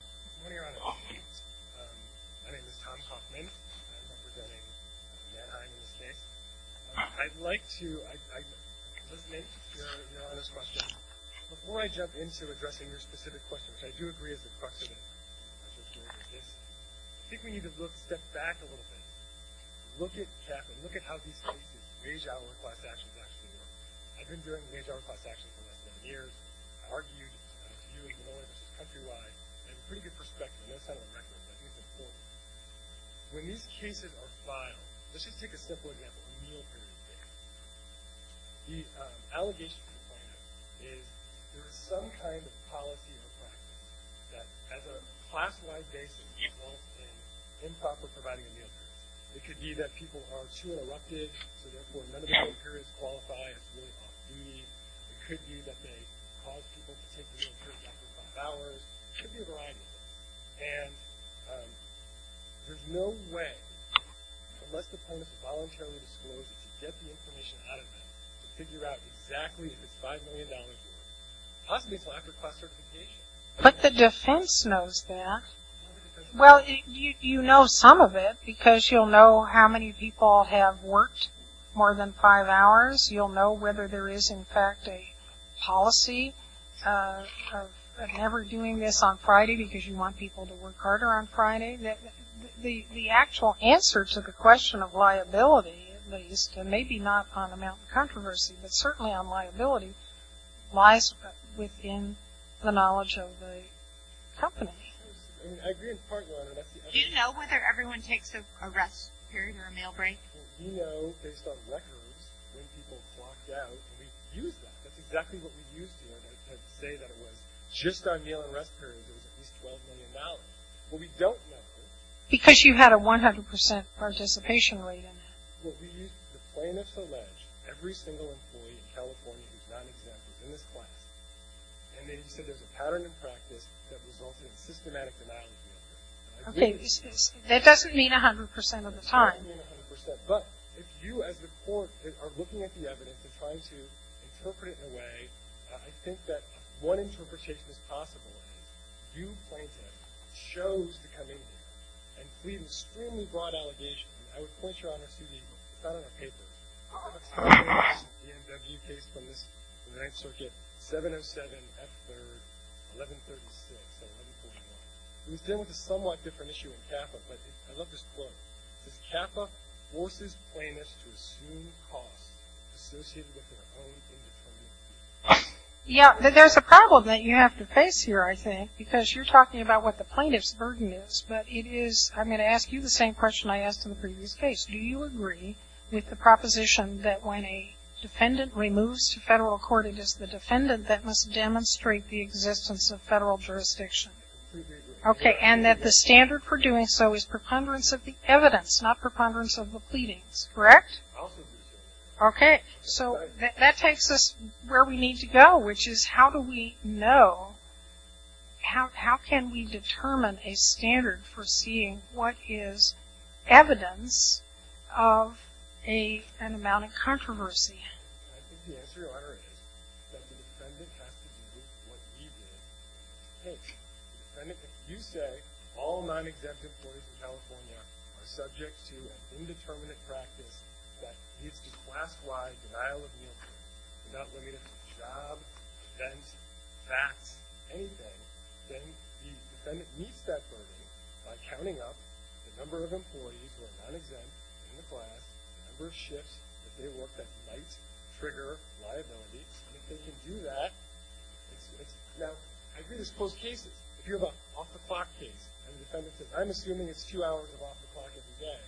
Good morning, Your Honor. My name is Tom Kaufman. I'm representing Manheim in this case. I'd like to elucidate your Honor's question. Before I jump into addressing your specific question, which I do agree is the crux of it, I think we need to step back a little bit. Look at CAF and look at how these studies of wage-hour class actions actually work. I've been doing wage-hour class actions for less than a year. When these cases are filed, let's just take a simple example of a meal-period case. The allegation from the client is there is some kind of policy or practice that, as a class-wide basis, involves an improper providing of meal-periods. It could be that people are too interrupted, so therefore none of the meal-periods qualify as really off-meeting. It could be that they cause people to take meal-periods after five hours. It could be a variety of things. And there's no way, unless the plaintiff has voluntarily disclosed it, to get the information out of them to figure out exactly if it's $5 million worth, possibly until after class certification. But the defense knows that. Well, you know some of it because you'll know how many people have worked more than five hours. You'll know whether there is, in fact, a policy of never doing this on Friday because you want people to work harder on Friday. The actual answer to the question of liability, at least, and maybe not on the Mount of Controversy, but certainly on liability, lies within the knowledge of the company. I agree with part one. Do you know whether everyone takes a rest period or a meal break? Well, we know, based on records, when people clocked out, we used that. That's exactly what we used here to say that it was just our meal and rest periods, it was at least $12 million. What we don't know, though. Because you had a 100% participation rate in that. Well, we used, the plaintiffs allege, every single employee in California who's not exempt is in this class. And they said there's a pattern in practice that results in systematic denial of guilt. Okay, that doesn't mean 100% of the time. It doesn't mean 100%. But if you, as the court, are looking at the evidence and trying to interpret it in a way, I think that one interpretation is possible. You, plaintiff, chose to come in here and plead an extremely broad allegation. I would point you out on a CD. It's not on a paper. It's in a case from the Ninth Circuit, 707 F. 3rd, 1136. It was dealt with a somewhat different issue in CAFA, but I love this quote. It says, CAFA forces plaintiffs to assume costs associated with their own independence. Yeah, there's a problem that you have to face here, I think, because you're talking about what the plaintiff's burden is. But it is, I'm going to ask you the same question I asked in the previous case. Do you agree with the proposition that when a defendant removes to federal court, it is the defendant that must demonstrate the existence of federal jurisdiction? We agree. Okay. And that the standard for doing so is preponderance of the evidence, not preponderance of the pleadings, correct? I also agree with that. Okay. So that takes us where we need to go, which is how do we know, how can we determine a standard for seeing what is evidence of an amount of controversy? I think the answer is that the defendant has to do what he did in this case. If you say all non-exempt employees in California are subject to an indeterminate practice that leads to class-wide denial of income, not limited to jobs, events, facts, anything, then the defendant meets that burden by counting up the number of employees who are non-exempt in the class, the number of shifts that they worked at night, trigger, liability. I mean, if they can do that, it's, now, I agree there's closed cases. If you have an off-the-clock case and the defendant says, I'm assuming it's two hours of off-the-clock every day,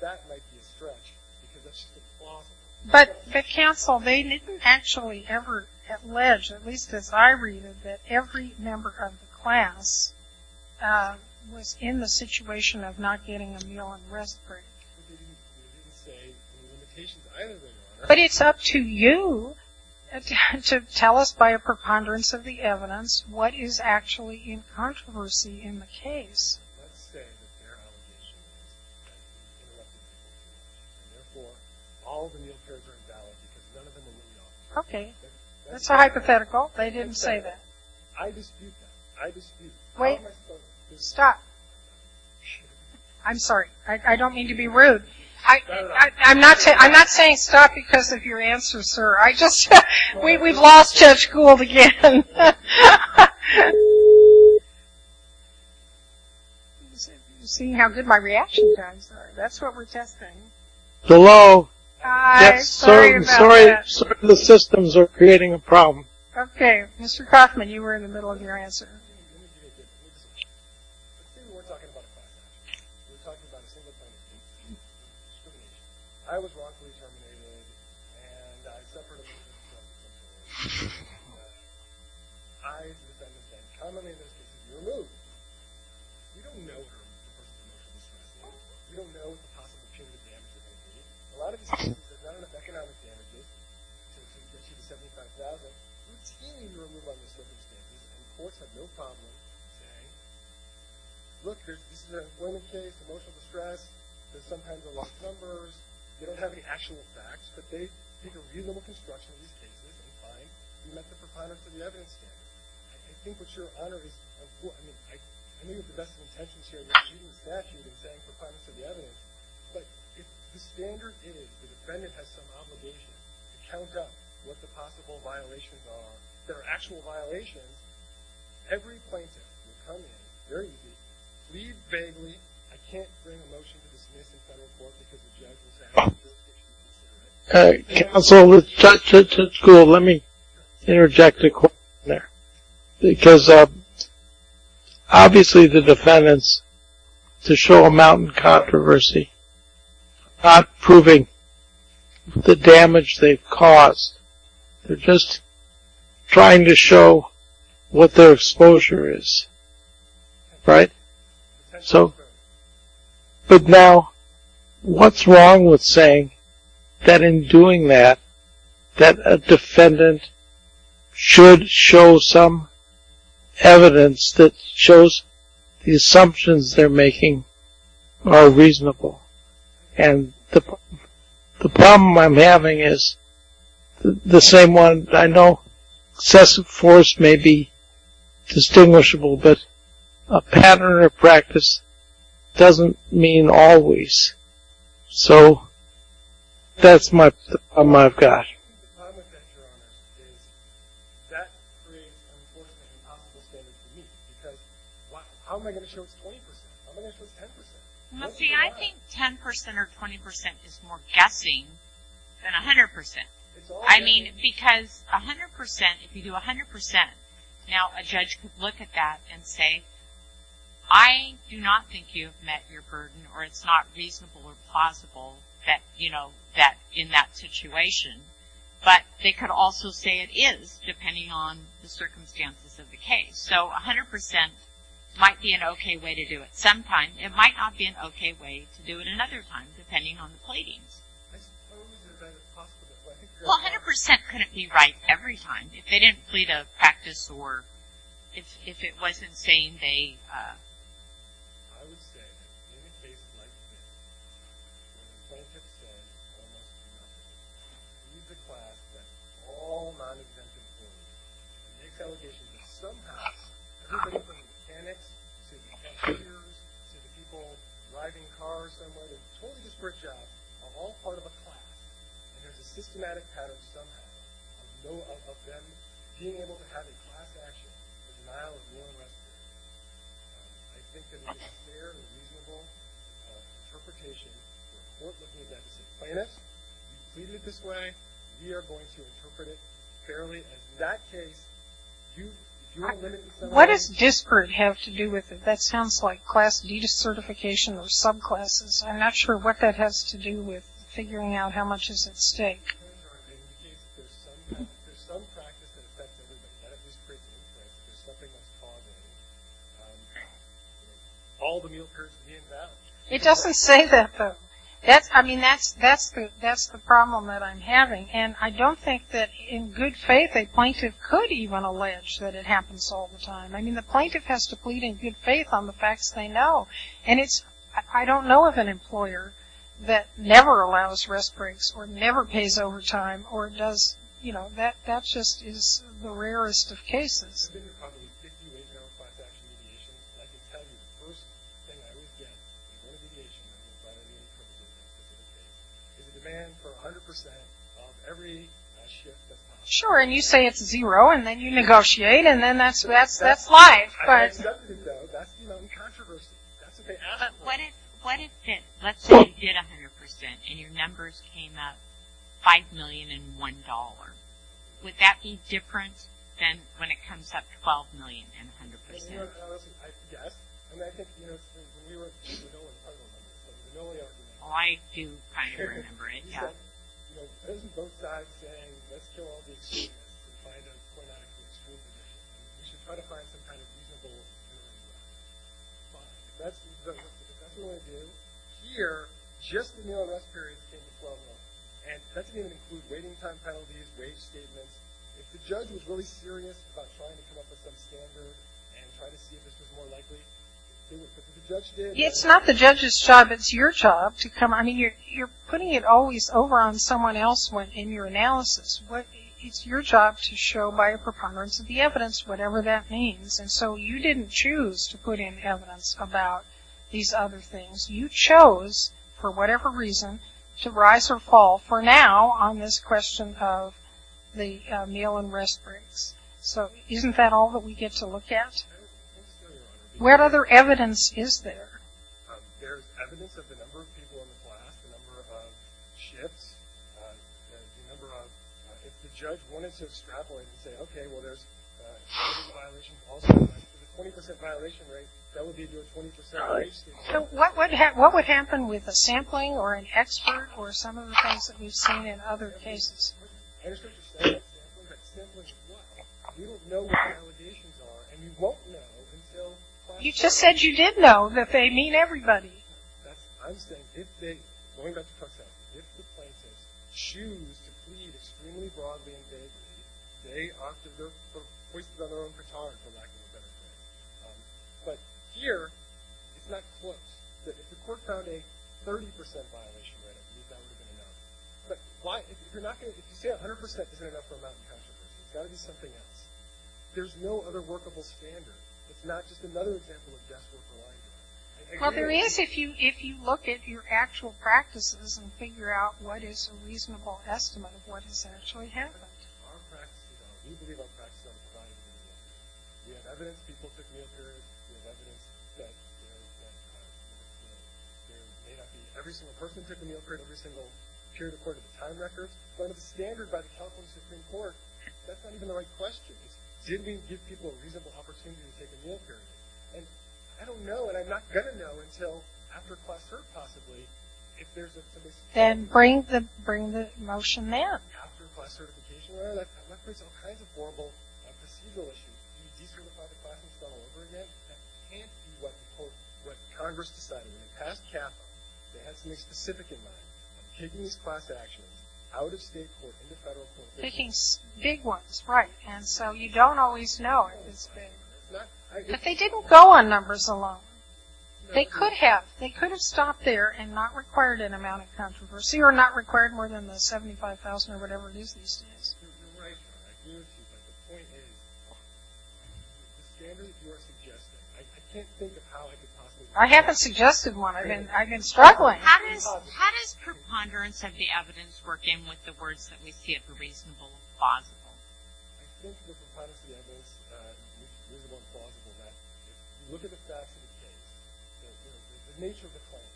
that might be a stretch because that's just a clause. But the counsel, they didn't actually ever allege, at least as I read it, that every member of the class was in the situation of not getting a meal and rest break. They didn't say the limitations either way, Your Honor. But it's up to you to tell us by a preponderance of the evidence what is actually in controversy in the case. Let's say that their allegation is that they were left with no food and therefore all of the meals are invalid because none of them were laid off. Okay, that's a hypothetical. They didn't say that. I dispute that. I dispute that. Wait, stop. I'm sorry. I don't mean to be rude. I'm not saying stop because of your answer, sir. I just, we've lost Judge Gould again. You see how good my reaction times are. That's what we're testing. Hello. I'm sorry about that. The systems are creating a problem. Okay. Mr. Kaufman, you were in the middle of your answer. I was wrongfully terminated and I suffered a lot of self-injury. I, as a defendant, can commonly in those cases be removed. You don't know if a person is emotionally distressed or not. You don't know what the possible punitive damages would be. A lot of these cases, there's not enough economic damages, so you can see the $75,000. and the courts have no problem with that. Okay. Look, this is an employment case. Emotional distress. There's sometimes a lot of numbers. They don't have any actual facts, but they think a reasonable construction in these cases would be fine if we met the requirements of the evidence standard. I think what you're honoring is important. I mean, I know you have the best of intentions here when you're using the statute and saying requirements of the evidence, but if the standard is the defendant has some obligation to count up what the possible violations are that are actual violations, every plaintiff will come in, very easily, leave vaguely, I can't bring a motion to dismiss in front of the court because the judge will say, I don't think this case should be considered. Counsel, to school, let me interject a question there because obviously the defendants, to show a mountain controversy, not proving the damage they've caused, they're just trying to show what their exposure is, right? So, but now, what's wrong with saying that in doing that, that a defendant should show some evidence that shows the assumptions they're making are reasonable? And the problem I'm having is the same one, I know excessive force may be distinguishable, but a pattern of practice doesn't mean always. The problem with that, Your Honor, is that creates an unfortunate and impossible standard for me because how am I going to show it's 20%? How am I going to show it's 10%? Well, see, I think 10% or 20% is more guessing than 100%. I mean, because 100%, if you do 100%, now a judge could look at that and say, I do not think you've met your burden or it's not reasonable or plausible that, you know, in that situation. But they could also say it is, depending on the circumstances of the case. So 100% might be an okay way to do it sometime. It might not be an okay way to do it another time, depending on the pleadings. Well, 100% couldn't be right every time. If they didn't plead a practice or if it wasn't saying they. I would say, in a case like this, where the plaintiff says almost nothing, leaves a class that is all non-exemptive for you, and makes allegations that somehow, everybody from the mechanics to the engineers to the people driving cars somewhere, they totally just work jobs, are all part of a class, and there's a systematic pattern somehow of them being able to have a class action and denial of moral respite. I think that it is a fair and reasonable interpretation to report looking at that and say, plaintiff, you pleaded it this way, we are going to interpret it fairly. And in that case, you are limited. What does disparate have to do with it? That sounds like class de-dissertification or subclasses. I'm not sure what that has to do with figuring out how much is at stake. It indicates that there's some practice that affects everybody. That it just creates an interest. There's something that's positive. All the meal turns to be a badge. It doesn't say that, though. I mean, that's the problem that I'm having. And I don't think that, in good faith, a plaintiff could even allege that it happens all the time. I mean, the plaintiff has to plead in good faith on the facts they know. And I don't know of an employer that never allows rest breaks or never pays overtime or does, you know, that just is the rarest of cases. There's been probably 50 ways to go in class action mediation, and I can tell you the first thing I would get in a mediation is a demand for 100% of every shift that's possible. Sure, and you say it's zero, and then you negotiate, and then that's life. I've done it, though. That's, you know, in controversy. That's what they ask for. Let's say you did 100% and your numbers came up $5 million and $1. Would that be different than when it comes up $12 million and 100%? I do kind of remember it, yeah. It's not the judge's job. It's your job to come on. You're putting it always over on someone else in your analysis. It's your job to show by a preponderance of the evidence, whatever that means. And so you didn't choose to put in evidence about these other things. You chose, for whatever reason, to rise or fall, for now, on this question of the meal and rest breaks. So isn't that all that we get to look at? What other evidence is there? There's evidence of the number of people in the class, the number of shifts, the number of – if the judge wanted to extrapolate and say, okay, well, there's a 20% violation rate, that would be to a 20%… What would happen with a sampling or an expert or some of the things that we've seen in other cases? I understand you're saying sampling, but sampling is what? We don't know what the validations are, and we won't know until… You just said you did know that they mean everybody. I'm saying if they – going back to Clark's answer – if the plaintiffs choose to plead extremely broadly in favor of you, they are foisted on their own for tolerance for lack of a better word. But here, it's not close. If the court found a 30% violation rate, that would have been enough. But why – if you're not going to – if you say 100% isn't enough for a mountain of controversy, it's got to be something else. There's no other workable standard. It's not just another example of guesswork or lying. Well, there is if you look at your actual practices and figure out what is a reasonable estimate of what has actually happened. Our practice – we believe our practice doesn't provide a reasonable estimate. We have evidence. People took meal periods. We have evidence that there is a… Every single person took a meal period, every single period according to time records. But a standard by the California Supreme Court, that's not even the right question. Did we give people a reasonable opportunity to take a meal period? And I don't know, and I'm not going to know until after class cert, possibly, if there's a… Then bring the motion in. After class certification, I'm not afraid of all kinds of horrible procedural issues. You can decertify the class and start all over again. That can't be what the Congress decided. In the past cap, they had something specific in mind. Taking these class actions out of state court into federal court. Big ones, right. And so you don't always know. But they didn't go on numbers alone. They could have. They could have stopped there and not required an amount of controversy or not required more than the $75,000 or whatever it is these days. You're right. I agree with you. But the point is, the standards you are suggesting, I can't think of how I could possibly… I haven't suggested one. I've been struggling. How does preponderance of the evidence work in with the words that we see I think the preponderance of the evidence, reasonable and plausible, that if you look at the facts of the case, the nature of the claim,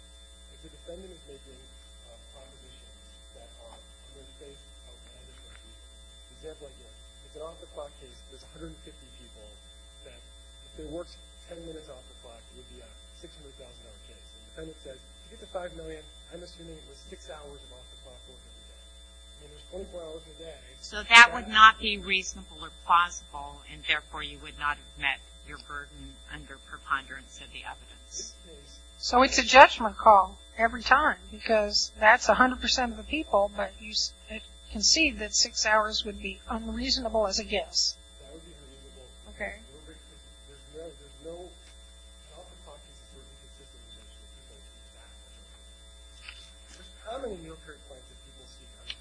if the defendant is making propositions that are, in this case, the example I gave, it's an off-the-clock case. There's 150 people. If it works 10 minutes off-the-clock, it would be a $600,000 case. And the defendant said, to get to $5 million, I'm assuming it was six hours of off-the-clock work. So that would not be reasonable or plausible, and therefore you would not have met your burden under preponderance of the evidence. So it's a judgment call every time because that's 100% of the people, but you concede that six hours would be unreasonable as a guess. Okay. There's no self-hypothesis or inconsistent assumption that people would do that. There's commonly meal-period claims that people see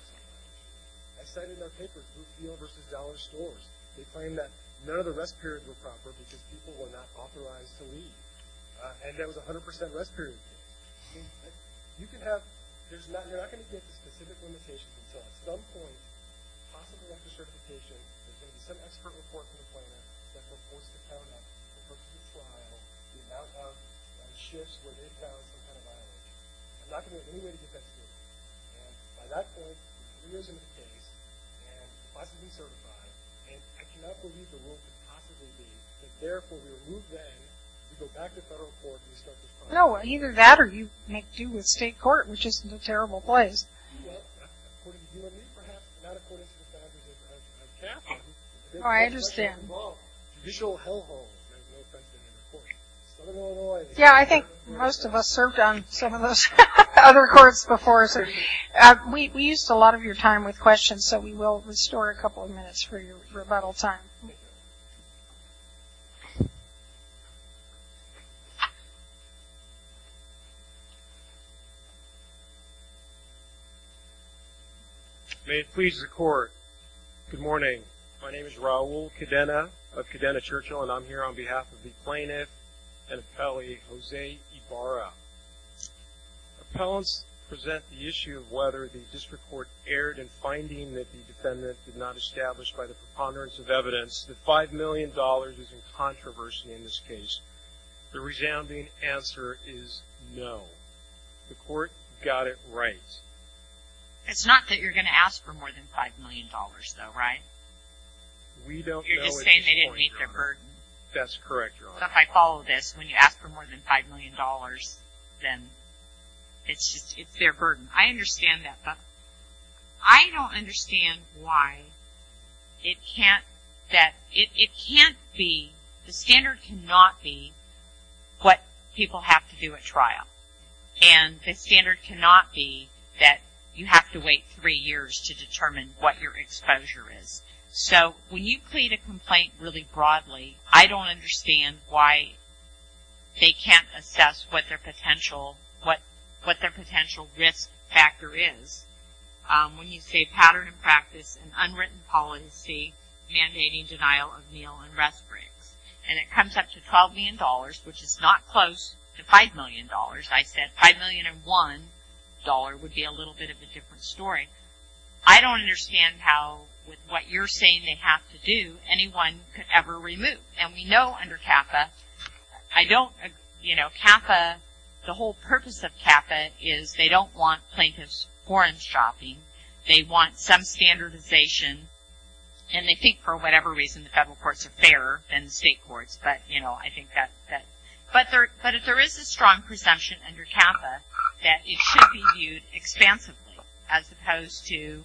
100%. I cited in our paper, food meal versus dollar stores. They claim that none of the rest periods were proper because people were not authorized to leave, and there was a 100% rest period case. You can have, you're not going to get the specific limitations, and so at some point, possibly after certification, there's going to be some expert report to the plaintiff that's supposed to count up, that's supposed to compile the amount of shifts where they found some kind of violation. I'm not going to have any way to get that to you, and by that point, three years into the case, and possibly certified, and I cannot believe the rule could possibly be that therefore we remove them, we go back to federal court, and we start the trial. No, either that or you make do with state court, which isn't a terrible place. Well, according to you and me perhaps, not according to the statute, Oh, I understand. Yeah, I think most of us served on some of those other courts before, so we used a lot of your time with questions, so we will restore a couple of minutes for your rebuttal time. Okay. May it please the court. Good morning. My name is Raul Cadena of Cadena Churchill, and I'm here on behalf of the plaintiff and appellee, Jose Ibarra. Appellants present the issue of whether the district court erred in finding that the defendant did not establish, by the preponderance of evidence, that $5 million is in controversy in this case. The resounding answer is no. The court got it right. It's not that you're going to ask for more than $5 million, though, right? We don't know. You're just saying they didn't meet their burden. That's correct, Your Honor. If I follow this, when you ask for more than $5 million, then it's their burden. I understand that, but I don't understand why it can't be, the standard cannot be what people have to do at trial. And the standard cannot be that you have to wait three years to determine what your exposure is. I don't understand why they can't assess what their potential risk factor is when you say pattern and practice and unwritten policy mandating denial of meal and rest breaks. And it comes up to $12 million, which is not close to $5 million. I said $5 million and one dollar would be a little bit of a different story. I don't understand how, with what you're saying they have to do, that anyone could ever remove. And we know under CAFA, I don't, you know, CAFA, the whole purpose of CAFA is they don't want plaintiffs foreign shopping. They want some standardization, and they think for whatever reason the federal courts are fairer than the state courts, but, you know, I think that, but if there is a strong presumption under CAFA that it should be viewed expansively as opposed to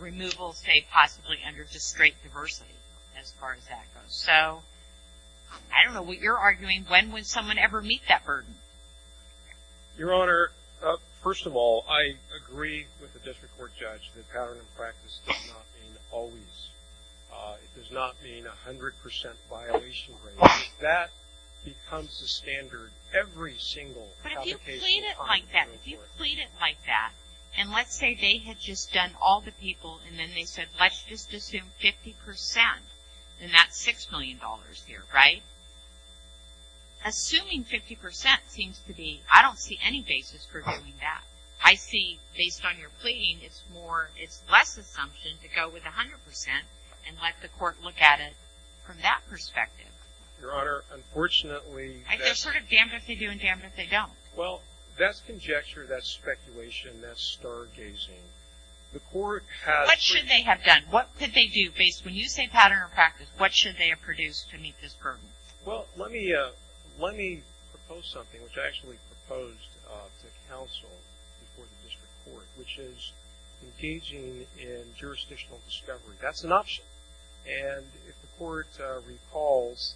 removal, say, possibly under just straight diversity as far as that goes. So I don't know what you're arguing. When would someone ever meet that burden? Your Honor, first of all, I agree with the district court judge that pattern and practice does not mean always. It does not mean a hundred percent violation rate. That becomes the standard every single application. If you plead it like that, if you plead it like that and let's say they had just done all the people and then they said, let's just assume 50%, then that's $6 million here, right? Assuming 50% seems to be, I don't see any basis for doing that. I see, based on your pleading, it's more, it's less assumption to go with a hundred percent and let the court look at it from that perspective. Your Honor, unfortunately, they're sort of damned if they do and damned if they don't. Well, that's conjecture, that's speculation, that's stargazing. The court has. What should they have done? What could they do based, when you say pattern or practice, what should they have produced to meet this burden? Well, let me propose something, which I actually proposed to counsel before the district court, which is engaging in jurisdictional discovery. That's an option. And if the court recalls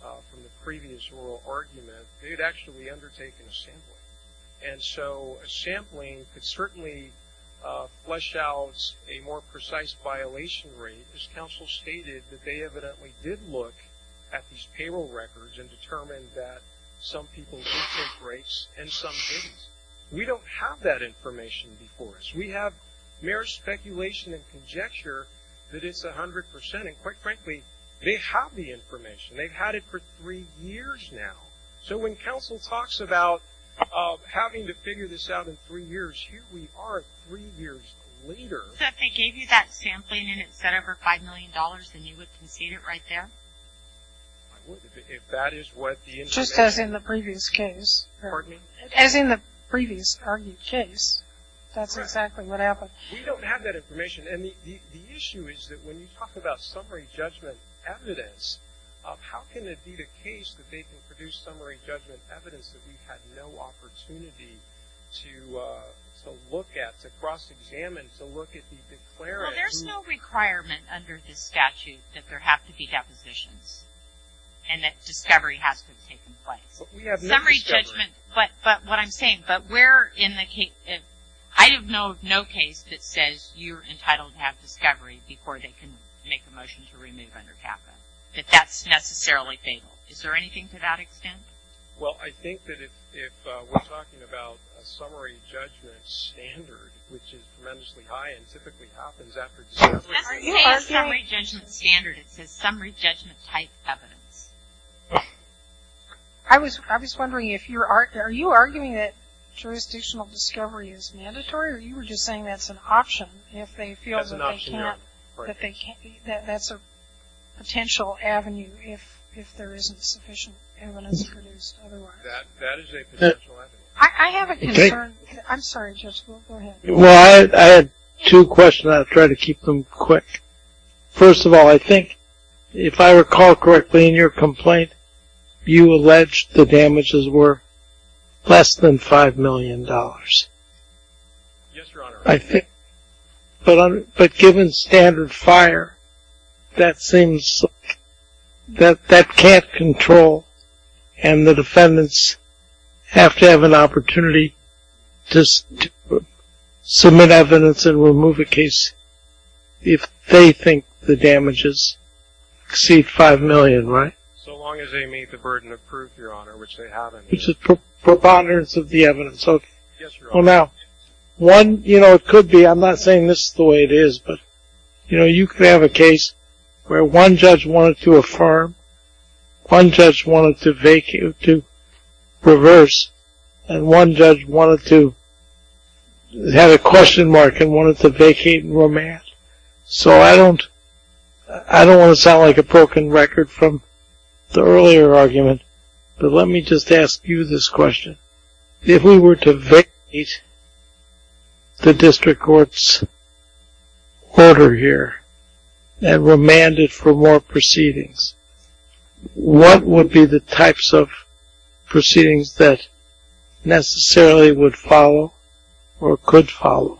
from the previous oral argument, they had actually undertaken a sampling. And so a sampling could certainly flesh out a more precise violation rate, as counsel stated, that they evidently did look at these payroll records and determined that some people did take rates and some didn't. We don't have that information before us. We have mere speculation and conjecture that it's 100%. And quite frankly, they have the information. They've had it for three years now. So when counsel talks about having to figure this out in three years, here we are three years later. So if they gave you that sampling and it said over $5 million, then you would concede it right there? I would if that is what the information. Just as in the previous case. Pardon me? As in the previous argued case. That's exactly what happened. We don't have that information. And the issue is that when you talk about summary judgment evidence, how can it be the case that they can produce summary judgment evidence that we've had no opportunity to look at, to cross-examine, to look at the declarant? Well, there's no requirement under this statute that there have to be depositions and that discovery has to have taken place. Summary judgment, but what I'm saying, but I know of no case that says you're entitled to have discovery before they can make a motion to remove under CAFA, that that's necessarily fatal. Is there anything to that extent? Well, I think that if we're talking about a summary judgment standard, which is tremendously high and typically happens after discovery. It doesn't say a summary judgment standard. It says summary judgment type evidence. I was wondering if you're arguing that jurisdictional discovery is mandatory or you were just saying that's an option if they feel that's a potential avenue if there isn't sufficient evidence produced otherwise. That is a potential avenue. I have a concern. I'm sorry, Judge, go ahead. Well, I had two questions. I'll try to keep them quick. First of all, I think if I recall correctly in your complaint, you alleged the damages were less than $5 million. Yes, Your Honor. But given standard fire, that seems that that can't control and the defendants have to have an opportunity to submit evidence and remove a case if they think the damages exceed $5 million, right? So long as they meet the burden of proof, Your Honor, which they haven't. Which is preponderance of the evidence, okay. Yes, Your Honor. Well, now, one, you know, it could be, I'm not saying this is the way it is, but, you know, you could have a case where one judge wanted to affirm, one judge wanted to reverse, and one judge wanted to have a question mark and wanted to vacate and remand. So I don't want to sound like a broken record from the earlier argument, but let me just ask you this question. If we were to vacate the district court's order here and remand it for more proceedings, what would be the types of proceedings that necessarily would follow or could follow?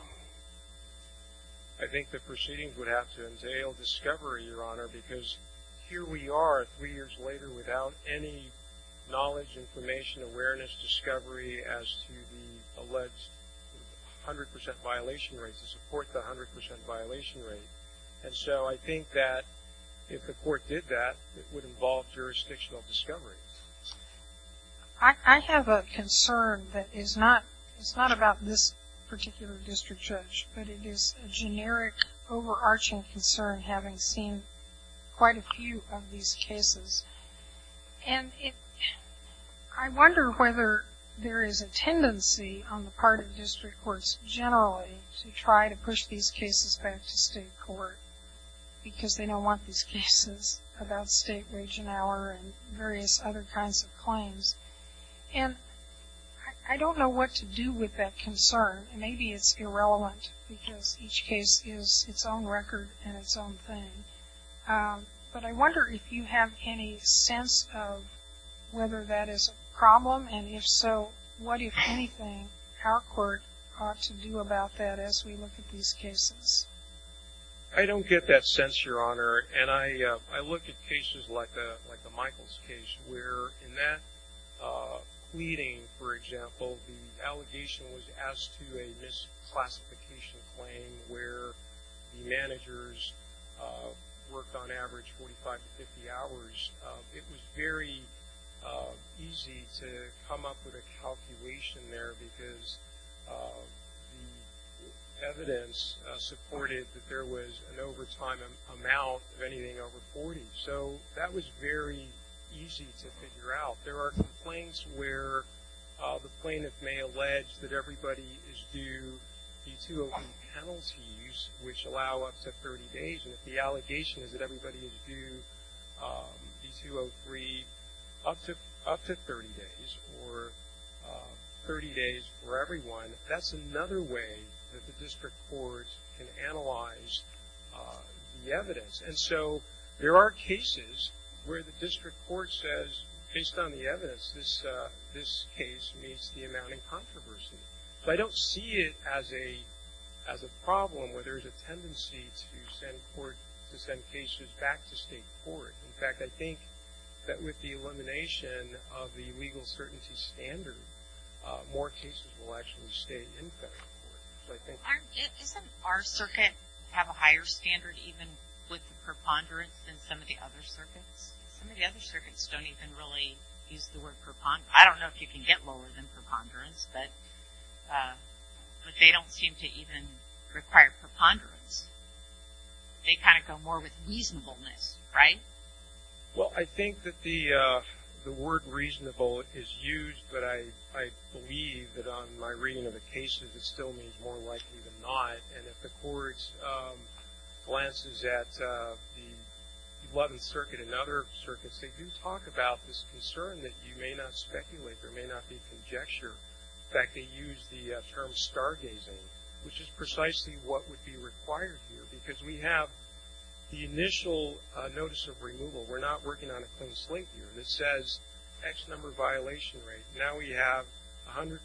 I think the proceedings would have to entail discovery, Your Honor, because here we are three years later without any knowledge, information, awareness, discovery as to the alleged 100% violation rate to support the 100% violation rate. And so I think that if the court did that, it would involve jurisdictional discovery. I have a concern that is not about this particular district judge, but it is a generic overarching concern having seen quite a few of these cases. And I wonder whether there is a tendency on the part of district courts generally to try to push these cases back to state court because they don't want these cases about state region hour and various other kinds of claims. And I don't know what to do with that concern. Maybe it's irrelevant because each case is its own record and its own thing. But I wonder if you have any sense of whether that is a problem, and if so, what, if anything, our court ought to do about that as we look at these cases. I don't get that sense, Your Honor. And I look at cases like the Michaels case where in that pleading, for example, the allegation was asked to a misclassification claim where the managers worked on average 45 to 50 hours. It was very easy to come up with a calculation there because the evidence supported that there was an overtime amount of anything over 40. So that was very easy to figure out. There are complaints where the plaintiff may allege that everybody is due E-208 penalties, which allow up to 30 days, and if the allegation is that everybody is due E-203 up to 30 days or 30 days for everyone, that's another way that the district court can analyze the evidence. And so there are cases where the district court says, based on the evidence, this case meets the amount in controversy. But I don't see it as a problem where there's a tendency to send cases back to state court. In fact, I think that with the elimination of the legal certainty standard, more cases will actually stay in federal court. Isn't our circuit have a higher standard even with preponderance than some of the other circuits? Some of the other circuits don't even really use the word preponderance. I don't know if you can get lower than preponderance, but they don't seem to even require preponderance. They kind of go more with reasonableness, right? Well, I think that the word reasonable is used, but I believe that on my reading of the cases it still means more likely than not. And if the court glances at the 11th Circuit and other circuits, they do talk about this concern that you may not speculate, there may not be conjecture. In fact, they use the term stargazing, which is precisely what would be required here, because we have the initial notice of removal. We're not working on a clean slate here. And it says X number violation rate. Now we have 100%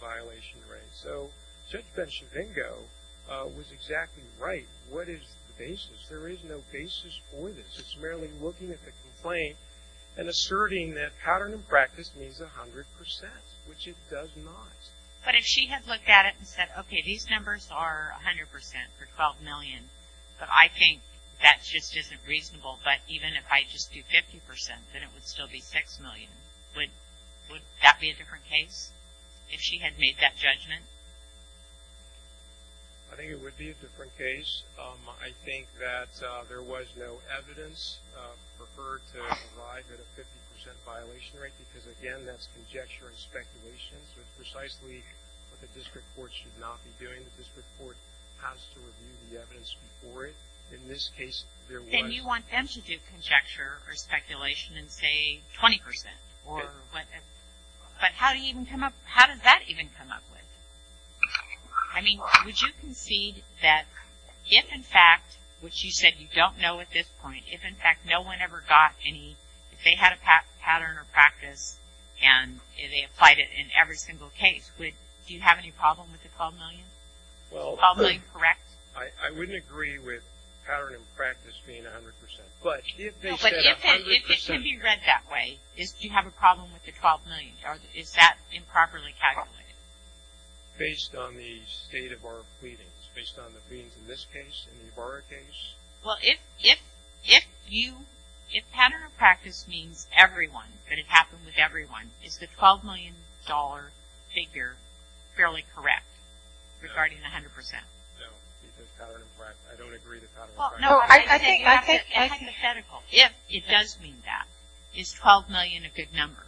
violation rate. So Judge Benchavingo was exactly right. What is the basis? There is no basis for this. It's merely looking at the complaint and asserting that pattern and practice means 100%, which it does not. But if she had looked at it and said, okay, these numbers are 100% for $12 million, but I think that just isn't reasonable, but even if I just do 50%, then it would still be $6 million. Would that be a different case if she had made that judgment? I think it would be a different case. I think that there was no evidence for her to arrive at a 50% violation rate, because, again, that's conjecture and speculation. So it's precisely what the district court should not be doing. The district court has to review the evidence before it. In this case, there was. Then you want them to do conjecture or speculation and say 20%. But how does that even come up with? I mean, would you concede that if, in fact, which you said you don't know at this point, if, in fact, no one ever got any, if they had a pattern or practice and they applied it in every single case, do you have any problem with the $12 million? Is the $12 million correct? I wouldn't agree with pattern and practice being 100%. But if they said 100%. If it can be read that way, do you have a problem with the $12 million? Is that improperly calculated? Based on the state of our pleadings. Based on the pleadings in this case, in the Ibarra case. Well, if you, if pattern and practice means everyone, that it happened with everyone, is the $12 million figure fairly correct regarding the 100%? No. I don't agree with pattern and practice. Hypothetical. If it does mean that, is $12 million a good number?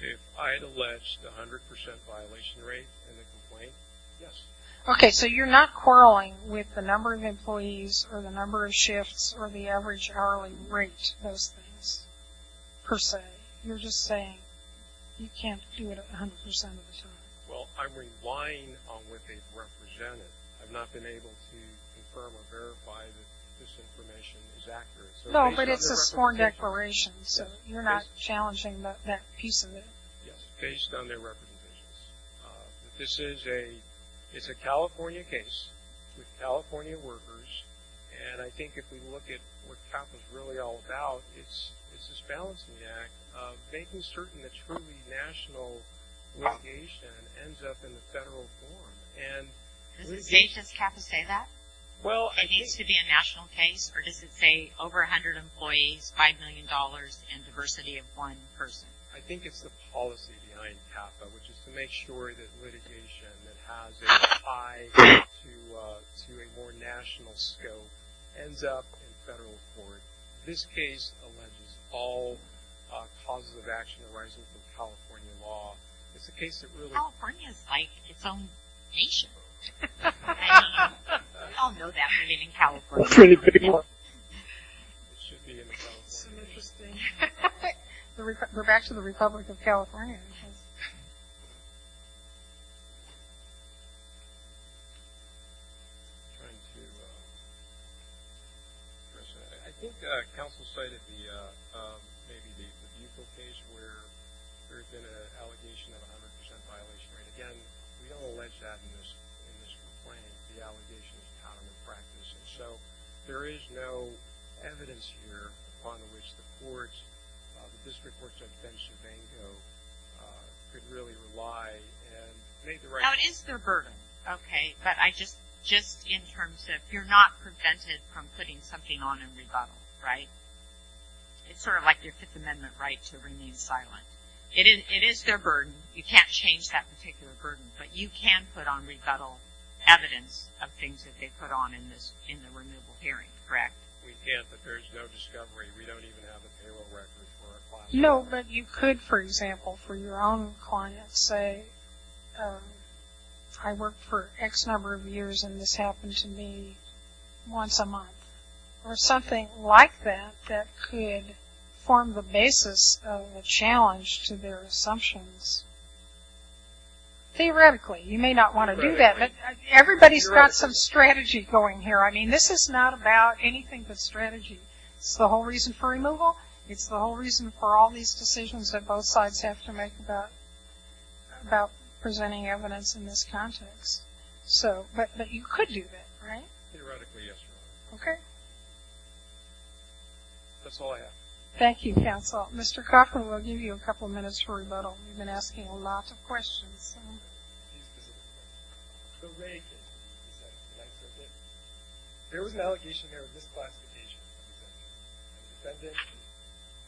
If I had alleged the 100% violation rate in the complaint, yes. Okay, so you're not quarreling with the number of employees or the number of shifts or the average hourly rate of those things, per se. You're just saying you can't do it 100% of the time. Well, I'm relying on what they've represented. I've not been able to confirm or verify that this information is accurate. No, but it's a sworn declaration, so you're not challenging that piece of it. Yes, based on their representations. This is a California case with California workers, and I think if we look at what CAP is really all about, it's this balancing act, making certain that truly national litigation ends up in the federal forum. Does CAPA say that? It needs to be a national case, or does it say over 100 employees, $5 million, and diversity of one person? I think it's the policy behind CAPA, which is to make sure that litigation that has a tie to a more national scope ends up in federal court. This case alleges all causes of action arising from California law. California is like its own nation. I don't know that we live in California anymore. It should be in the California law. We're back to the Republic of California. I think counsel cited the case where there had been an allegation of 100% violation. Again, we don't allege that in this complaint. The allegation is common practice, and so there is no evidence here upon which the courts, the district courts on the bench in Vango could really rely and make the right decision. Now, it is their burden, okay, but just in terms of you're not prevented from putting something on in rebuttal, right? It's sort of like your Fifth Amendment right to remain silent. It is their burden. You can't change that particular burden, but you can put on rebuttal evidence of things that they put on in the removal hearing, correct? We can't, but there's no discovery. We don't even have a payroll record for our clients. No, but you could, for example, for your own clients say I worked for X number of years and this happened to me once a month or something like that that could form the basis of a challenge to their assumptions. Theoretically, you may not want to do that, but everybody's got some strategy going here. I mean, this is not about anything but strategy. It's the whole reason for removal. It's the whole reason for all these decisions that both sides have to make about presenting evidence in this context, but you could do that, right? Theoretically, yes, Your Honor. Okay. That's all I have. Thank you, counsel. Mr. Cochran, we'll give you a couple minutes for rebuttal. You've been asking a lot of questions. The Rae case, there was an allegation there of misclassification. The defendant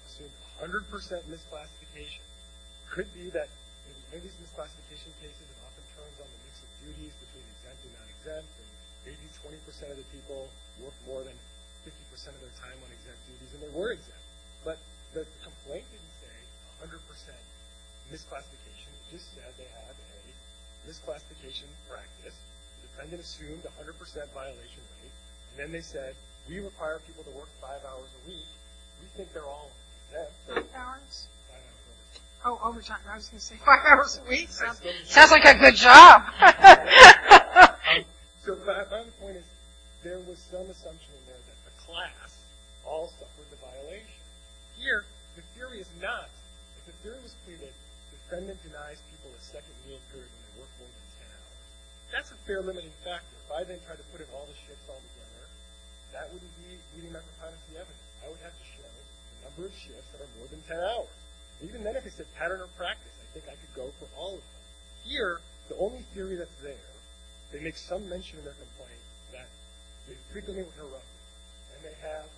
assumed 100% misclassification. It could be that in many of these misclassification cases, it often turns on the mix of duties between exempt and non-exempt, and maybe 20% of the people work more than 50% of their time on exempt duties, and they were exempt, but the complaint didn't say 100% misclassification. It just said they had a misclassification practice. The defendant assumed 100% violation rate, and then they said, we require people to work five hours a week. We think they're all exempt. Five hours? Five hours. Oh, I was going to say five hours a week sounds like a good job. So, my point is there was some assumption in there that the class all suffered the violation. Here, the theory is not. If the theory was clear that the defendant denies people a second meal period when they work more than 10 hours, that's a fair limiting factor. If I then tried to put in all the shifts altogether, that wouldn't be meeting my propensity evidence. I would have to show the number of shifts that are more than 10 hours. Even then, if it said pattern or practice, I think I could go for all of them. Here, the only theory that's there, they make some mention in their complaint that they frequently were interrupted, and they have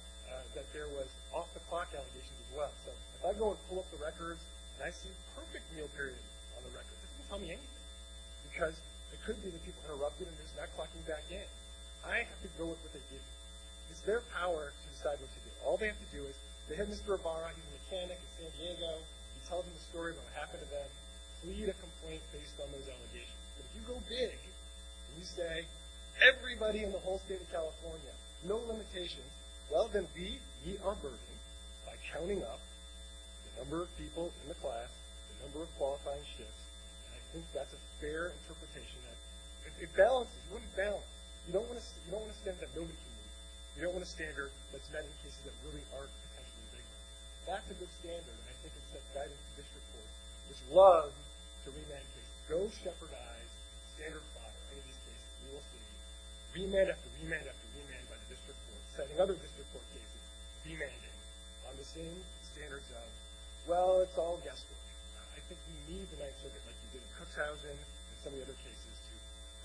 that there was off-the-clock allegations as well. So, if I go and pull up the records, and I see perfect meal periods on the records, it doesn't tell me anything, because it could be that people interrupted and they're just not clocking back in. I have to go with what they did. It's their power to decide what to do. All they have to do is, they have Mr. Ibarra, he's a mechanic in San Diego, he tells them the story of what happened to them, plead a complaint based on those allegations. But if you go big, and you say, everybody in the whole state of California, no limitations, well, then we meet our burden by counting up the number of people in the class, the number of qualifying shifts, and I think that's a fair interpretation. It balances, it wouldn't balance. You don't want a standard that nobody can meet. You don't want a standard that's met in cases that really aren't potentially legal. That's a good standard, and I think it's set by the district court. It's love to remand cases. Go shepherdize the standard plot of any of these cases. We will see remand after remand after remand by the district court. Setting other district court cases, remanded, on the same standards of, well, it's all guesswork. I think we need the night circuit, like we did in Cookshousen, and some of the other cases to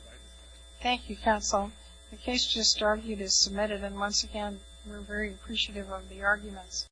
provide this. Thank you, counsel. The case just argued is submitted, and once again, we're very appreciative of the arguments.